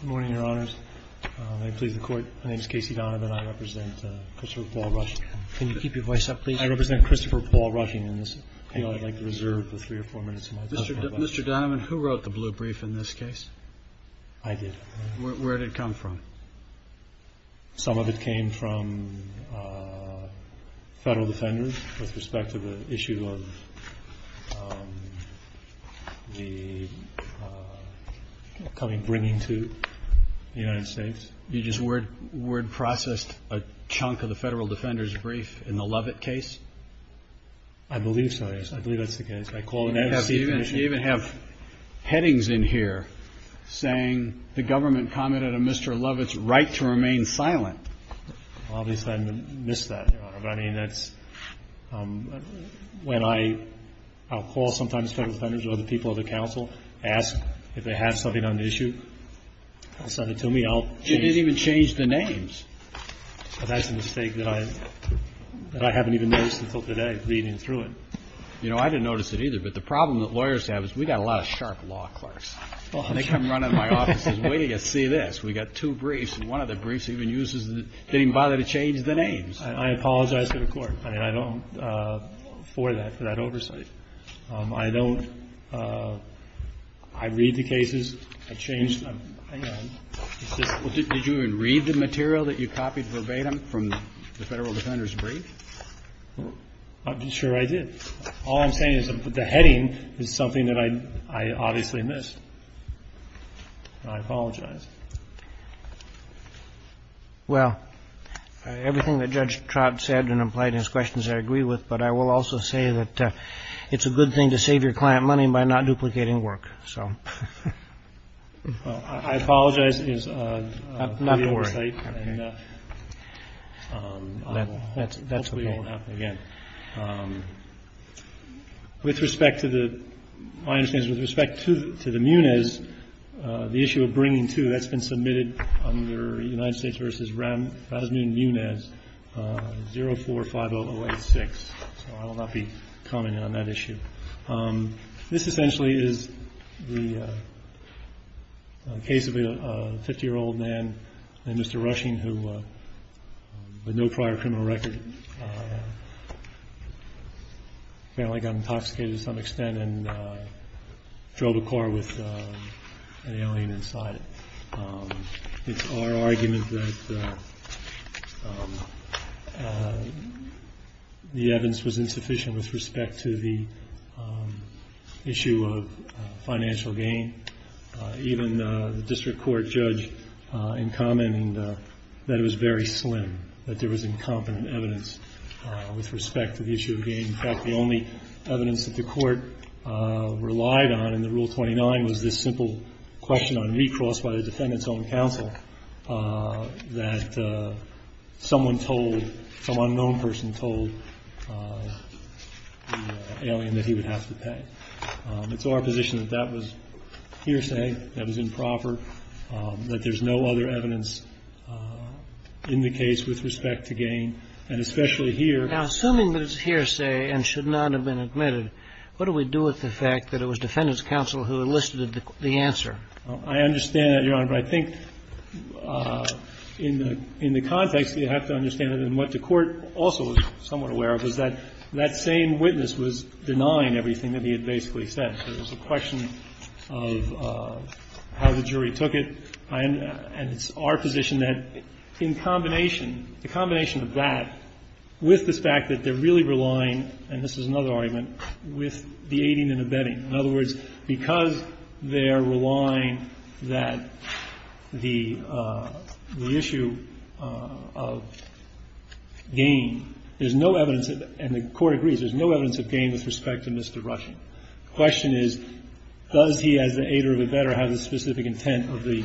Good morning, Your Honors. May it please the Court, my name is Casey Donovan and I represent Christopher Paul Rushing. Can you keep your voice up, please? I represent Christopher Paul Rushing and I'd like to reserve the three or four minutes of my time. Mr. Donovan, who wrote the blue brief in this case? I did. Where did it come from? Some of it came from Federal Defenders with respect to the issue of the coming, bringing to the United States. You just word processed a chunk of the Federal Defenders brief in the Lovett case? I believe so, yes. I believe that's the case. You even have headings in here saying the government commented on Mr. Lovett's right to remain silent. Obviously I missed that, Your Honor. I mean, that's when I'll call sometimes Federal Defenders or other people at the council, ask if they have something on the issue. They'll send it to me. You didn't even change the names. That's a mistake that I haven't even noticed until today, reading through it. You know, I didn't notice it either, but the problem that lawyers have is we've got a lot of sharp law clerks. They come running to my office and say, wait till you see this. We've got two briefs and one of the briefs even uses, didn't even bother to change the names. I apologize to the Court. I mean, I don't, for that, for that oversight. I don't, I read the cases, I changed them. Hang on. Did you even read the material that you copied verbatim from the Federal Defenders brief? I'm sure I did. All I'm saying is the heading is something that I obviously missed. I apologize. Well, everything that Judge Trott said and implied in his questions I agree with, but I will also say that it's a good thing to save your client money by not duplicating work. Well, I apologize for the oversight. Not to worry. And that hopefully won't happen again. With respect to the, my understanding is with respect to the Muniz, the issue of bringing to, that's been submitted under United States v. Rasmussen-Muniz, 045086. So I will not be commenting on that issue. This essentially is the case of a 50-year-old man named Mr. Rushing who, with no prior criminal record, apparently got intoxicated to some extent and drove a car with an alien inside it. It's our argument that the evidence was insufficient with respect to the issue of financial gain. Even the district court judge in commenting that it was very slim, that there was incompetent evidence with respect to the issue of gain. In fact, the only evidence that the court relied on in the Rule 29 was this simple question on recross by the defendant's own counsel that someone told, some unknown person told the alien that he would have to pay. It's our position that that was hearsay, that was improper, that there's no other evidence in the case with respect to gain, and especially here. Now, assuming that it's hearsay and should not have been admitted, what do we do with the fact that it was defendant's counsel who enlisted the answer? I understand that, Your Honor, but I think in the context, you have to understand that what the court also is somewhat aware of is that that same witness was denying everything that he had basically said. So it was a question of how the jury took it. And it's our position that in combination, the combination of that with the fact that they're really relying, and this is another argument, with deading and abetting. In other words, because they're relying that the issue of gain, there's no evidence that, and the court agrees, there's no evidence of gain with respect to Mr. Rushing. The question is, does he as the aider of abetter have the specific intent of the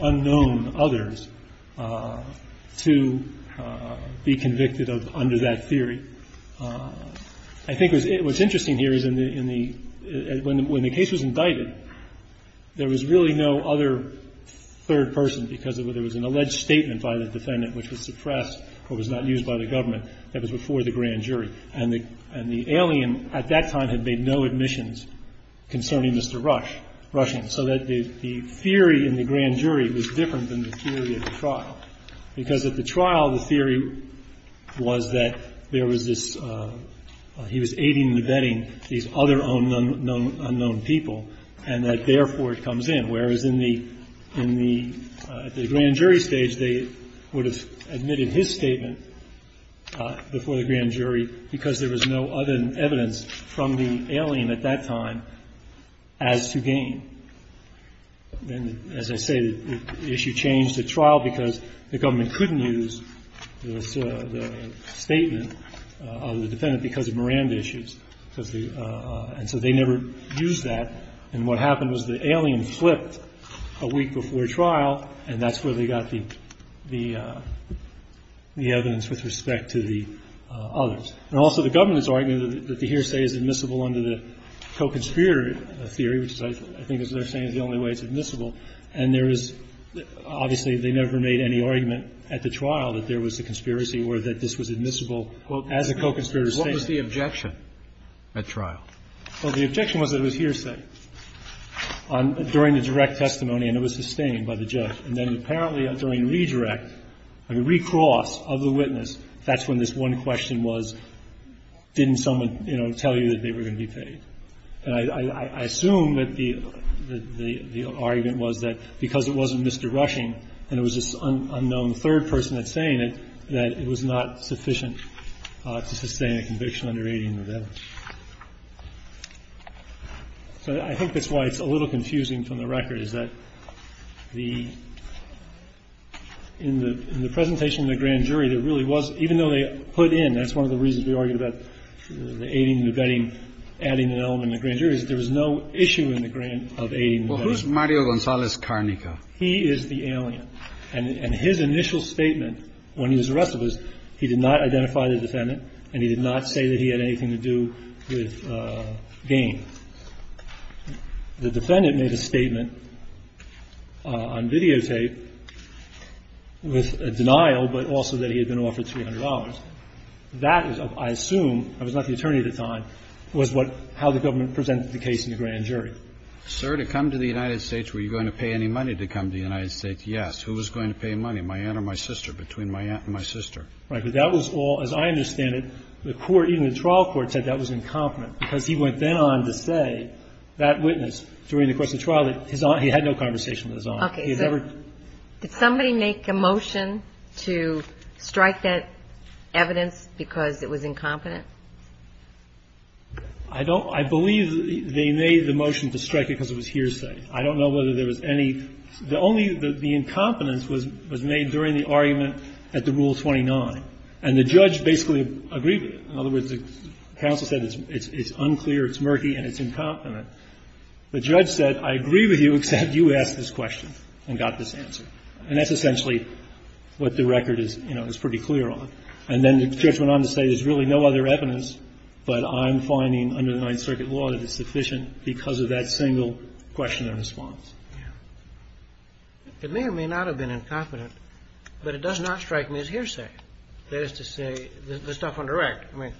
unknown others to be convicted under that theory? I think what's interesting here is in the, when the case was indicted, there was really no other third person because there was an alleged statement by the defendant which was suppressed or was not used by the government that was before the grand jury. And the alien at that time had made no admissions concerning Mr. Rush, Rushing, so that the theory in the grand jury was different than the theory at the trial, because at the trial, the theory was that there was this, he was aiding and abetting these other unknown people, and that therefore it comes in, whereas in the, in the grand jury stage, they would have admitted his statement before the grand jury because there was no other evidence from the alien at that time as to gain. And as I say, the issue changed at trial because the government couldn't use the statement of the defendant because of Miranda issues. And so they never used that. And what happened was the alien flipped a week before trial, and that's where they got the evidence with respect to the others. And also the government's argument that the hearsay is admissible under the co-conspirator theory, which I think as they're saying is the only way it's admissible, and there is, obviously they never made any argument at the trial that there was a conspiracy or that this was admissible as a co-conspirator statement. Roberts. What was the objection at trial? Well, the objection was that it was hearsay on, during the direct testimony, and it was sustained by the judge. And then apparently during redirect, I mean, recross of the witness, that's when this one question was, didn't someone, you know, tell you that they were going to be paid? And I assume that the argument was that because it wasn't Mr. Rushing and it was this unknown third person that's saying it, that it was not sufficient to sustain a conviction under aiding and abetting. So I think that's why it's a little confusing from the record, is that the – in the presentation to the grand jury, there really was – even though they put in – that's one of the reasons we argued about the aiding and abetting, adding an element in the grand jury, is that there was no issue in the grant of aiding and abetting. Well, who's Mario Gonzalez-Karnica? He is the alien. And his initial statement when he was arrested was he did not identify the defendant and he did not say that he had anything to do with gain. The defendant made a statement on videotape with a denial, but also that he had been offered $300. That is, I assume – I was not the attorney at the time – was what – how the government presented the case in the grand jury. Sir, to come to the United States, were you going to pay any money to come to the United States? Yes. Who was going to pay money? My aunt or my sister? Between my aunt and my sister. Right. But that was all – as I understand it, the court – even the trial court said that was incompetent, because he went then on to say, that witness, during the course of the trial, that his aunt – he had no conversation with his aunt. Okay. Did somebody make a motion to strike that evidence because it was incompetent? I don't – I believe they made the motion to strike it because it was hearsay. I don't know whether there was any – the only – the incompetence was made during the argument at the Rule 29. And the judge basically agreed with it. In other words, the counsel said it's unclear, it's murky, and it's incompetent. The judge said, I agree with you, except you asked this question and got this answer. And that's essentially what the record is, you know, is pretty clear on. And then the judge went on to say, there's really no other evidence, but I'm finding under the Ninth Circuit law that it's sufficient because of that single question and response. Yeah. It may or may not have been incompetent, but it does not strike me as hearsay. That is to say, the stuff on the record. I mean,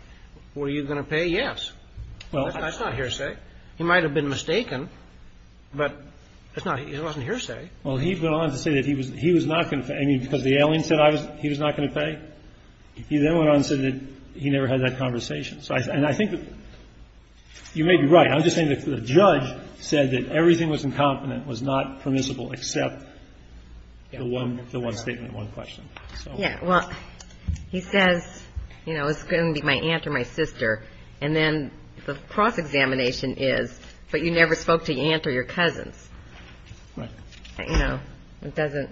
were you going to pay? Yes. That's not hearsay. He might have been mistaken, but it's not – it wasn't hearsay. Well, he went on to say that he was not going to pay. I mean, because the alien said he was not going to pay? He then went on and said that he never had that conversation. And I think you may be right. I'm just saying the judge said that everything was incompetent, was not permissible except the one statement, one question. Yeah. Well, he says, you know, it's going to be my aunt or my sister. And then the cross-examination is, but you never spoke to your aunt or your cousins. Right. You know, it doesn't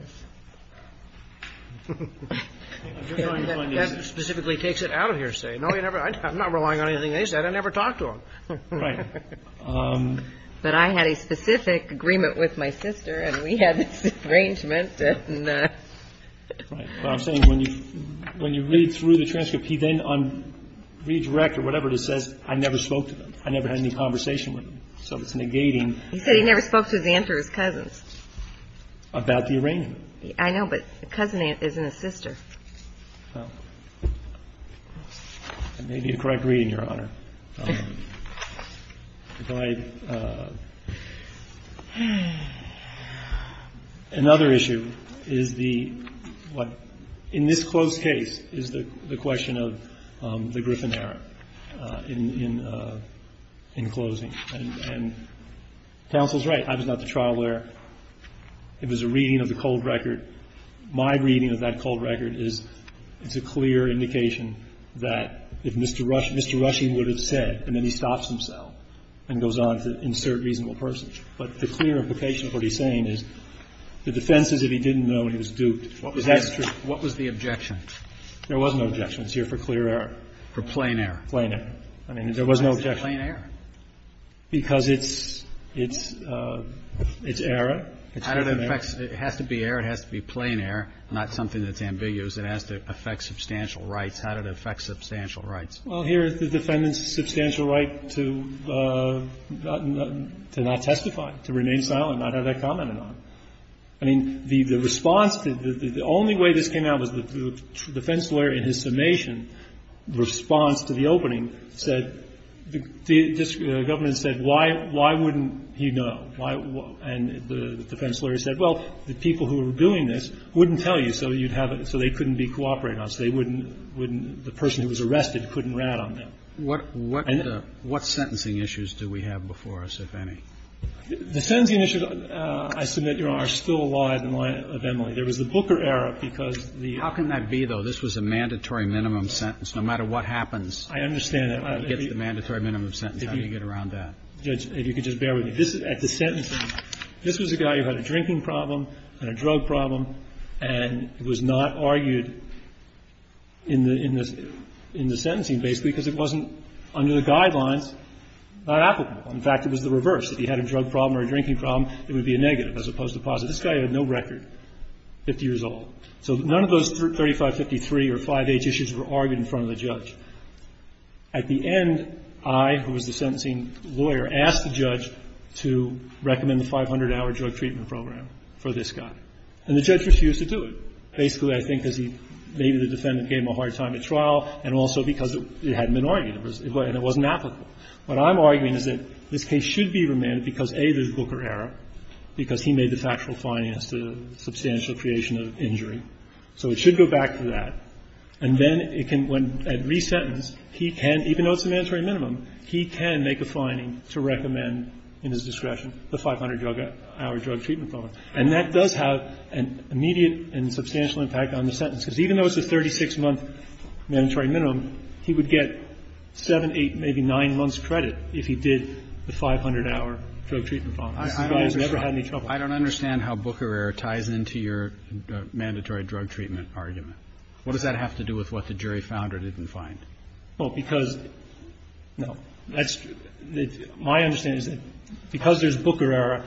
– That specifically takes it out of hearsay. No, you never – I'm not relying on anything they said. I never talked to them. Right. But I had a specific agreement with my sister, and we had this arrangement. Right. But I'm saying when you read through the transcript, he then, on redirect or whatever it says, I never spoke to them. I never had any conversation with them. So it's negating. He said he never spoke to his aunt or his cousins. About the arrangement. I know, but a cousin isn't a sister. Well, that may be a correct reading, Your Honor. Another issue is the – in this close case is the question of the Griffin error in closing. And counsel's right. I was not the trial lawyer. It was a reading of the cold record. My reading of that cold record is it's a clear indication that if Mr. Rush – Mr. Rushing would have said, and then he stops himself and goes on to insert reasonable persons. But the clear implication of what he's saying is the defense is if he didn't know and he was duped. What was the objection? There was no objection. It's here for clear error. For plain error. Plain error. I mean, there was no objection. Why is it plain error? Because it's – it's error. It has to be error. It has to be plain error, not something that's ambiguous. It has to affect substantial rights. How did it affect substantial rights? Well, here is the defendant's substantial right to not testify, to remain silent, not have that commented on. I mean, the response to – the only way this came out was the defense lawyer in his summation response to the opening said – the government said, why wouldn't he know? Why – and the defense lawyer said, well, the people who are doing this wouldn't tell you, so you'd have – so they couldn't be cooperating on it. So they wouldn't – the person who was arrested couldn't rat on them. What – what sentencing issues do we have before us, if any? The sentencing issues, I submit, Your Honor, are still alive and well in the memory. There was the Booker error because the – How can that be, though? This was a mandatory minimum sentence. No matter what happens, it gets the mandatory minimum sentence. How do you get around that? Judge, if you could just bear with me. This – at the sentencing, this was a guy who had a drinking problem and a drug problem and was not argued in the – in the – in the sentencing, basically, because it wasn't under the guidelines applicable. In fact, it was the reverse. If he had a drug problem or a drinking problem, it would be a negative as opposed to a positive. This guy had no record, 50 years old. So none of those 3553 or 5H issues were argued in front of the judge. At the end, I, who was the sentencing lawyer, asked the judge to recommend the 500-hour drug treatment program for this guy. And the judge refused to do it, basically, I think, because he – maybe the defendant gave him a hard time at trial and also because it hadn't been argued and it wasn't applicable. What I'm arguing is that this case should be remanded because, A, there's a Booker error, because he made the factual fine as to the substantial creation of injury. So it should go back to that. And then it can, when – at re-sentence, he can, even though it's a mandatory minimum, he can make a fining to recommend in his discretion the 500-hour drug treatment program. And that does have an immediate and substantial impact on the sentence, because even though it's a 36-month mandatory minimum, he would get 7, 8, maybe 9 months credit if he did the 500-hour drug treatment program. This guy has never had any trouble. Kennedy. I don't understand how Booker error ties into your mandatory drug treatment argument. What does that have to do with what the jury found or didn't find? Well, because – no. That's – my understanding is that because there's Booker error,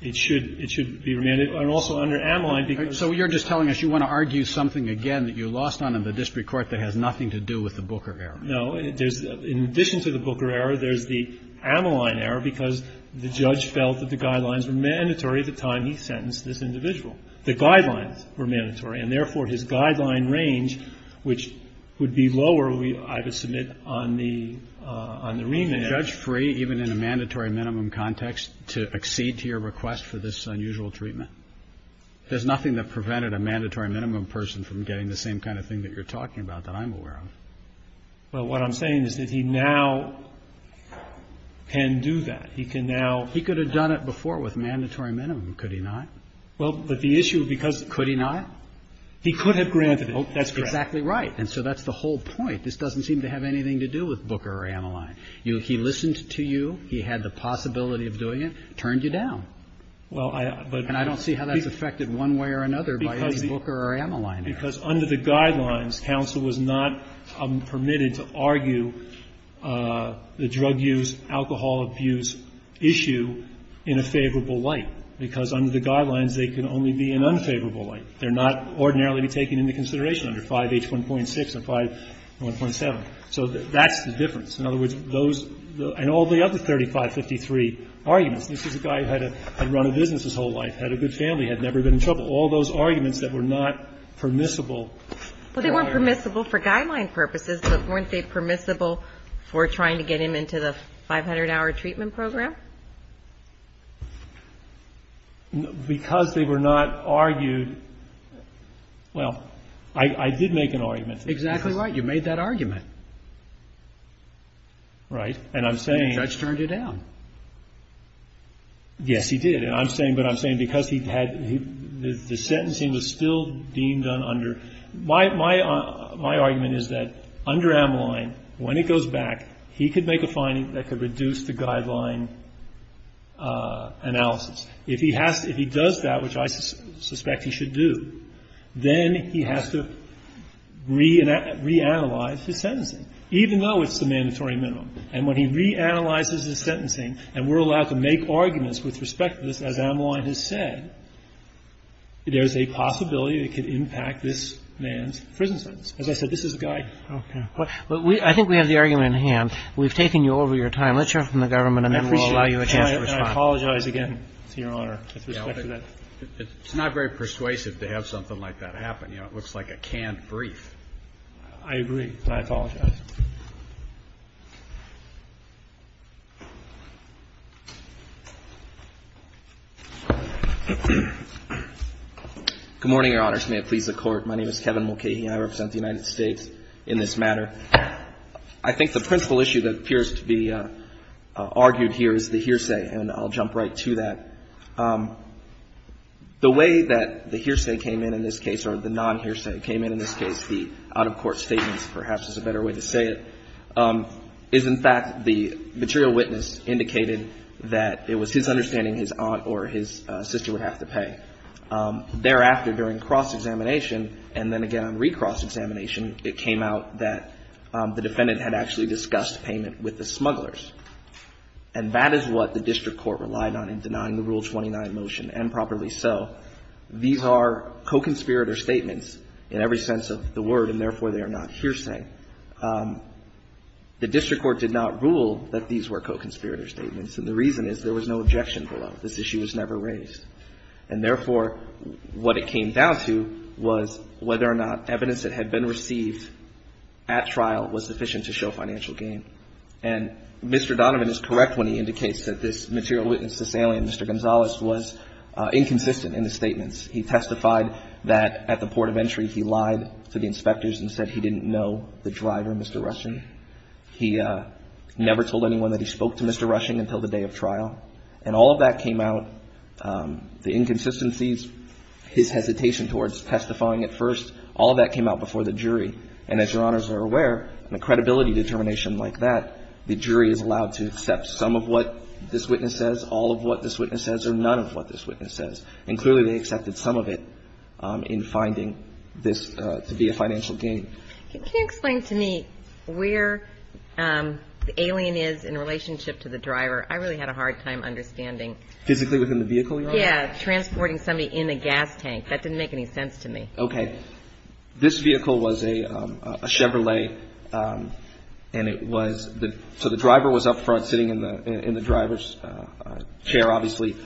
it should – it should be remanded. And also under Ameline, because – So you're just telling us you want to argue something again that you lost on in the district court that has nothing to do with the Booker error. No. There's – in addition to the Booker error, there's the Ameline error because the judge felt that the guidelines were mandatory at the time he sentenced this individual. The guidelines were mandatory, and therefore his guideline range, which would be lower, I would submit, on the remand. Would the judge free, even in a mandatory minimum context, to accede to your request for this unusual treatment? There's nothing that prevented a mandatory minimum person from getting the same kind of thing that you're talking about that I'm aware of. Well, what I'm saying is that he now can do that. He can now – He could have done it before with mandatory minimum, could he not? Well, but the issue – Could he not? He could have granted it. That's correct. Exactly right. And so that's the whole point. This doesn't seem to have anything to do with Booker or Ameline. He listened to you. He had the possibility of doing it. Turned you down. Well, I – And I don't see how that's affected one way or another by his Booker or Ameline Because under the guidelines, counsel was not permitted to argue the drug use, alcohol abuse issue in a favorable light. Because under the guidelines, they can only be in unfavorable light. They're not ordinarily taken into consideration under 5H1.6 and 5H1.7. So that's the difference. In other words, those – and all the other 3553 arguments. This is a guy who had run a business his whole life, had a good family, had never been in trouble. All those arguments that were not permissible. Well, they weren't permissible for guideline purposes, but weren't they permissible for trying to get him into the 500-hour treatment program? Because they were not argued – well, I did make an argument. Exactly right. You made that argument. Right. And I'm saying – The judge turned you down. Yes, he did. And I'm saying – but I'm saying because he had – the sentencing was still deemed under – my argument is that under Ameline, when it goes back, he could make a finding that could reduce the guideline analysis. If he has to – if he does that, which I suspect he should do, then he has to reanalyze his sentencing, even though it's the mandatory minimum. And when he reanalyzes his sentencing and we're allowed to make arguments with respect to this, as Ameline has said, there's a possibility it could impact this man's prison sentence. As I said, this is a guy. Okay. But we – I think we have the argument in hand. We've taken you over your time. Let's hear from the government and then we'll allow you a chance to respond. I apologize again, Your Honor, with respect to that. It's not very persuasive to have something like that happen. You know, it looks like a canned brief. I agree. I apologize. Good morning, Your Honors. May it please the Court. My name is Kevin Mulcahy. I represent the United States in this matter. I think the principal issue that appears to be argued here is the hearsay, and I'll jump right to that. The way that the hearsay came in in this case, or the non-hearsay came in in this case, the out-of-court statements, perhaps is a better way to say it, is in fact the material witness indicated that it was his understanding his aunt or his sister would have to pay. Thereafter, during cross-examination, and then again on re-cross-examination, it came out that the defendant had actually discussed payment with the smugglers. And that is what the district court relied on in denying the Rule 29 motion, and properly so. These are co-conspirator statements in every sense of the word, and, therefore, they are not hearsay. The district court did not rule that these were co-conspirator statements, and the reason is there was no objection below. This issue was never raised. And, therefore, what it came down to was whether or not evidence that had been received at trial was sufficient to show financial gain. And Mr. Donovan is correct when he indicates that this material witness, this alien, Mr. Gonzalez, was inconsistent in his statements. He testified that at the port of entry he lied to the inspectors and said he didn't know the driver, Mr. Rushing. He never told anyone that he spoke to Mr. Rushing until the day of trial. And all of that came out, the inconsistencies, his hesitation towards testifying at first, all of that came out before the jury. And, as Your Honors are aware, in a credibility determination like that, the jury is And clearly they accepted some of it in finding this to be a financial gain. Can you explain to me where the alien is in relationship to the driver? I really had a hard time understanding. Physically within the vehicle, Your Honor? Yeah. Transporting somebody in a gas tank. That didn't make any sense to me. Okay. This vehicle was a Chevrolet, and it was the so the driver was up front sitting in the driver's chair, obviously.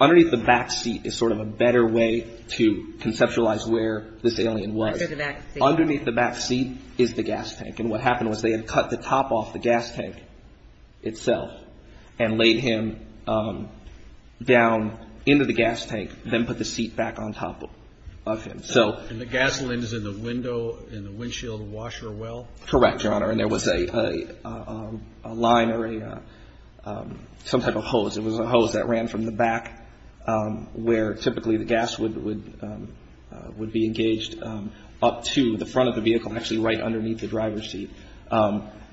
Underneath the back seat is sort of a better way to conceptualize where this alien was. I said the back seat. Underneath the back seat is the gas tank. And what happened was they had cut the top off the gas tank itself and laid him down into the gas tank, then put the seat back on top of him. And the gasoline is in the window, in the windshield washer well? Correct, Your Honor. And there was a line or some type of hose. It was a hose that ran from the back where typically the gas would be engaged up to the front of the vehicle, actually right underneath the driver's seat,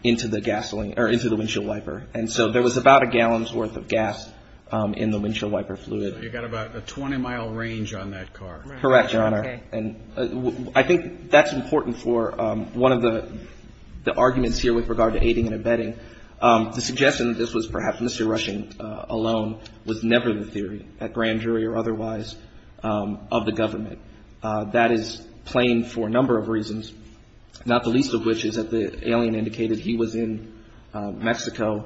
into the windshield wiper. And so there was about a gallon's worth of gas in the windshield wiper fluid. So you got about a 20-mile range on that car. Correct, Your Honor. Okay. And I think that's important for one of the arguments here with regard to aiding and abetting. The suggestion that this was perhaps Mr. Rushing alone was never the theory, at grand jury or otherwise, of the government. That is plain for a number of reasons, not the least of which is that the alien indicated he was in Mexico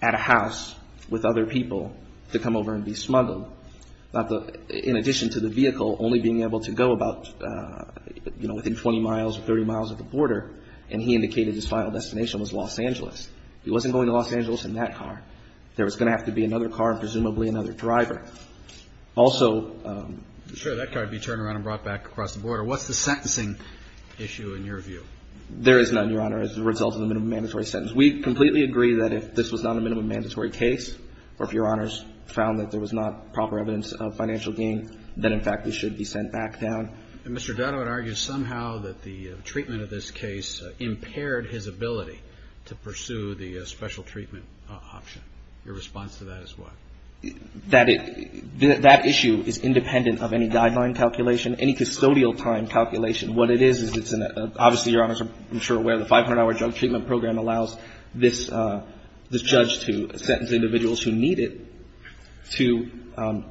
at a house with other people to come over and be smuggled. In addition to the vehicle only being able to go about, you know, within 20 miles or 30 miles of the border, and he indicated his final destination was Los Angeles. He wasn't going to Los Angeles in that car. There was going to have to be another car and presumably another driver. Also... Sure, that car would be turned around and brought back across the border. What's the sentencing issue in your view? There is none, Your Honor, as a result of the minimum mandatory sentence. We completely agree that if this was not a minimum mandatory case, or if Your Honors found that there was not proper evidence of financial gain, then in fact he should be sent back down. And Mr. Dotto argues somehow that the treatment of this case impaired his ability to pursue the special treatment option. Your response to that is what? That issue is independent of any guideline calculation, any custodial time calculation. What it is, is it's an obviously, Your Honors, I'm sure aware of the 500-hour drug treatment program allows this judge to sentence individuals who need it to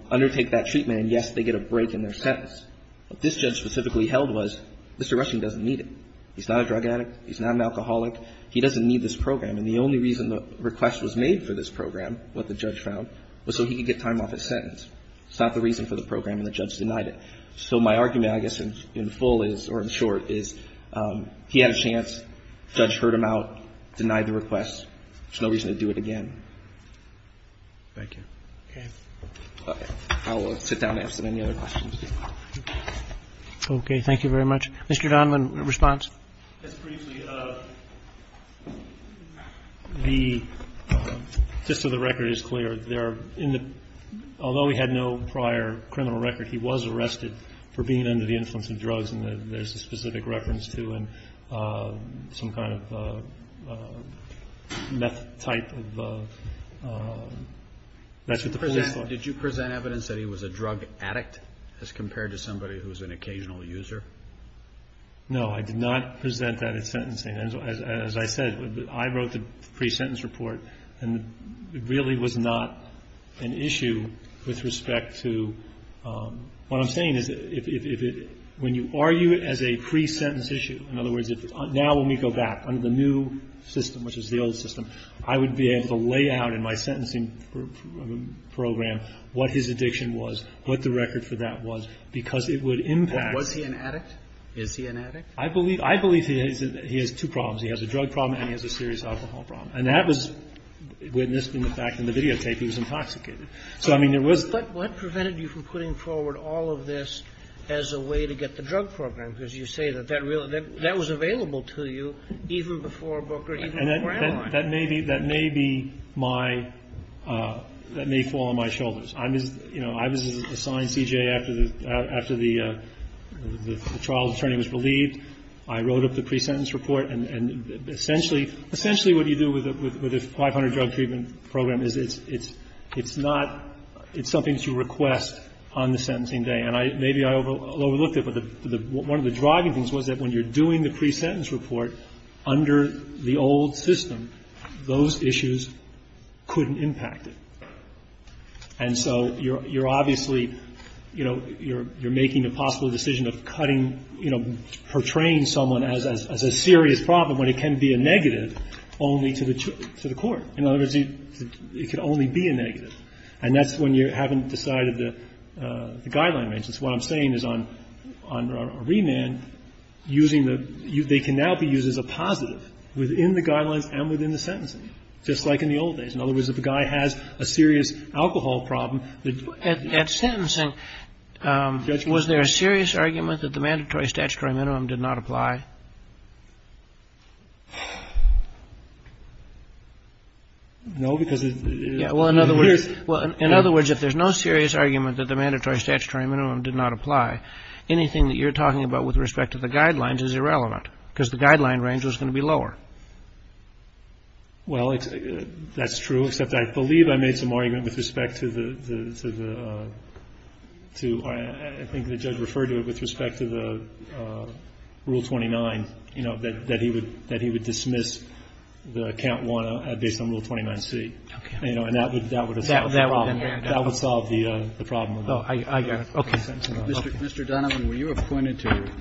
undertake that treatment. And, yes, they get a break in their sentence. What this judge specifically held was Mr. Rushing doesn't need it. He's not a drug addict. He's not an alcoholic. He doesn't need this program. And the only reason the request was made for this program, what the judge found, was so he could get time off his sentence. It's not the reason for the program, and the judge denied it. So my argument, I guess, in full is, or in short, is he had a chance. The judge heard him out, denied the request. There's no reason to do it again. Thank you. Okay. I will sit down and answer any other questions. Okay. Thank you very much. Mr. Donovan, response. Just briefly, the gist of the record is clear. Although he had no prior criminal record, he was arrested for being under the influence of drugs, and there's a specific reference to him, some kind of meth type of ---- Did you present evidence that he was a drug addict as compared to somebody who was an occasional user? No, I did not present that at sentencing. As I said, I wrote the pre-sentence report, and it really was not an issue with respect to ---- What I'm saying is if it ---- when you argue it as a pre-sentence issue, in other words, now when we go back under the new system, which is the old system, I would be able to lay out in my sentencing program what his addiction was, what the record for that was, because it would impact ---- Was he an addict? Is he an addict? I believe he has two problems. He has a drug problem, and he has a serious alcohol problem. And that was witnessed in the fact in the videotape he was intoxicated. So, I mean, there was ---- But what prevented you from putting forward all of this as a way to get the drug program? Because you say that that was available to you even before Booker, even before Allen. That may be my ---- that may fall on my shoulders. You know, I was assigned C.J. after the trial attorney was relieved. I wrote up the pre-sentence report. And essentially what you do with a 500-drug treatment program is it's not ---- it's something that you request on the sentencing day. And maybe I overlooked it, but one of the driving things was that when you're doing the pre-sentence report under the old system, those issues couldn't impact it. And so you're obviously, you know, you're making a possible decision of cutting, you know, portraying someone as a serious problem when it can be a negative only to the court. In other words, it could only be a negative. And that's when you haven't decided the guideline range. That's what I'm saying is on remand, using the ---- they can now be used as a positive within the guidelines and within the sentencing, just like in the old days. In other words, if a guy has a serious alcohol problem ---- Kagan. At sentencing, was there a serious argument that the mandatory statutory minimum did not apply? No, because it's ---- Well, in other words, if there's no serious argument that the mandatory statutory minimum did not apply, anything that you're talking about with respect to the guidelines is irrelevant, because the guideline range was going to be lower. Well, that's true, except I believe I made some argument with respect to the ---- I think the judge referred to it with respect to the Rule 29, you know, that he would dismiss the Count 1 based on Rule 29C. Okay. And that would have solved the problem. That would have solved the problem. I got it. Okay. Mr. Donovan, were you appointed to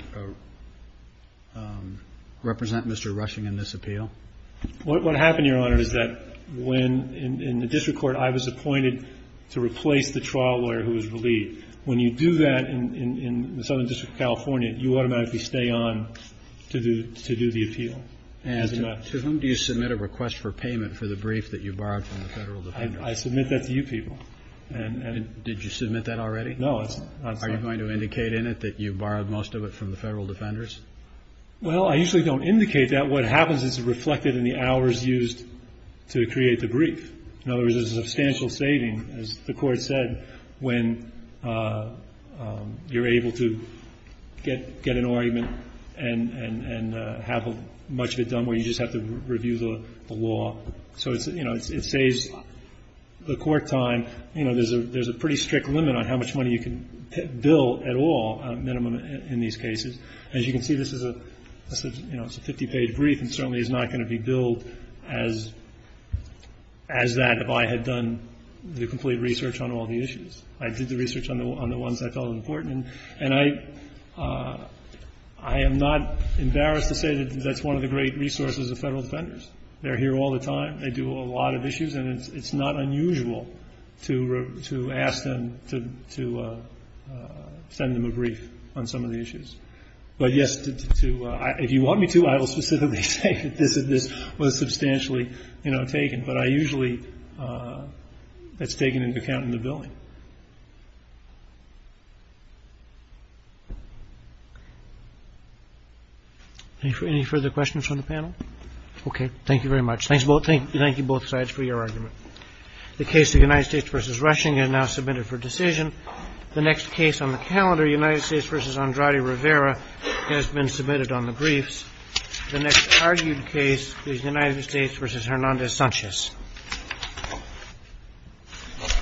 represent Mr. Rushing in this appeal? What happened, Your Honor, is that when in the district court I was appointed to replace the trial lawyer who was relieved, when you do that in the Southern District of California, you automatically stay on to do the appeal. And to whom do you submit a request for payment for the brief that you borrowed from the Federal Defender? I submit that to you people. And ---- Did you submit that already? No, it's not ---- Are you going to indicate in it that you borrowed most of it from the Federal Defenders? Well, I usually don't indicate that. What happens is it's reflected in the hours used to create the brief. In other words, there's a substantial saving, as the Court said, when you're able to get an argument and have much of it done where you just have to review the law. So, you know, it saves the court time. But, you know, there's a pretty strict limit on how much money you can bill at all minimum in these cases. As you can see, this is a 50-page brief and certainly is not going to be billed as that if I had done the complete research on all the issues. I did the research on the ones I felt important. And I am not embarrassed to say that that's one of the great resources of Federal Defenders. They're here all the time. They do a lot of issues. And it's not unusual to ask them to send them a brief on some of the issues. But, yes, to – if you want me to, I will specifically say that this was substantially, you know, taken. But I usually – it's taken into account in the billing. Any further questions from the panel? Okay. Thank you very much. Thank you both sides for your argument. The case of United States v. Rushing is now submitted for decision. The next case on the calendar, United States v. Andrade Rivera, has been submitted on the briefs. The next argued case is United States v. Hernandez-Sanchez.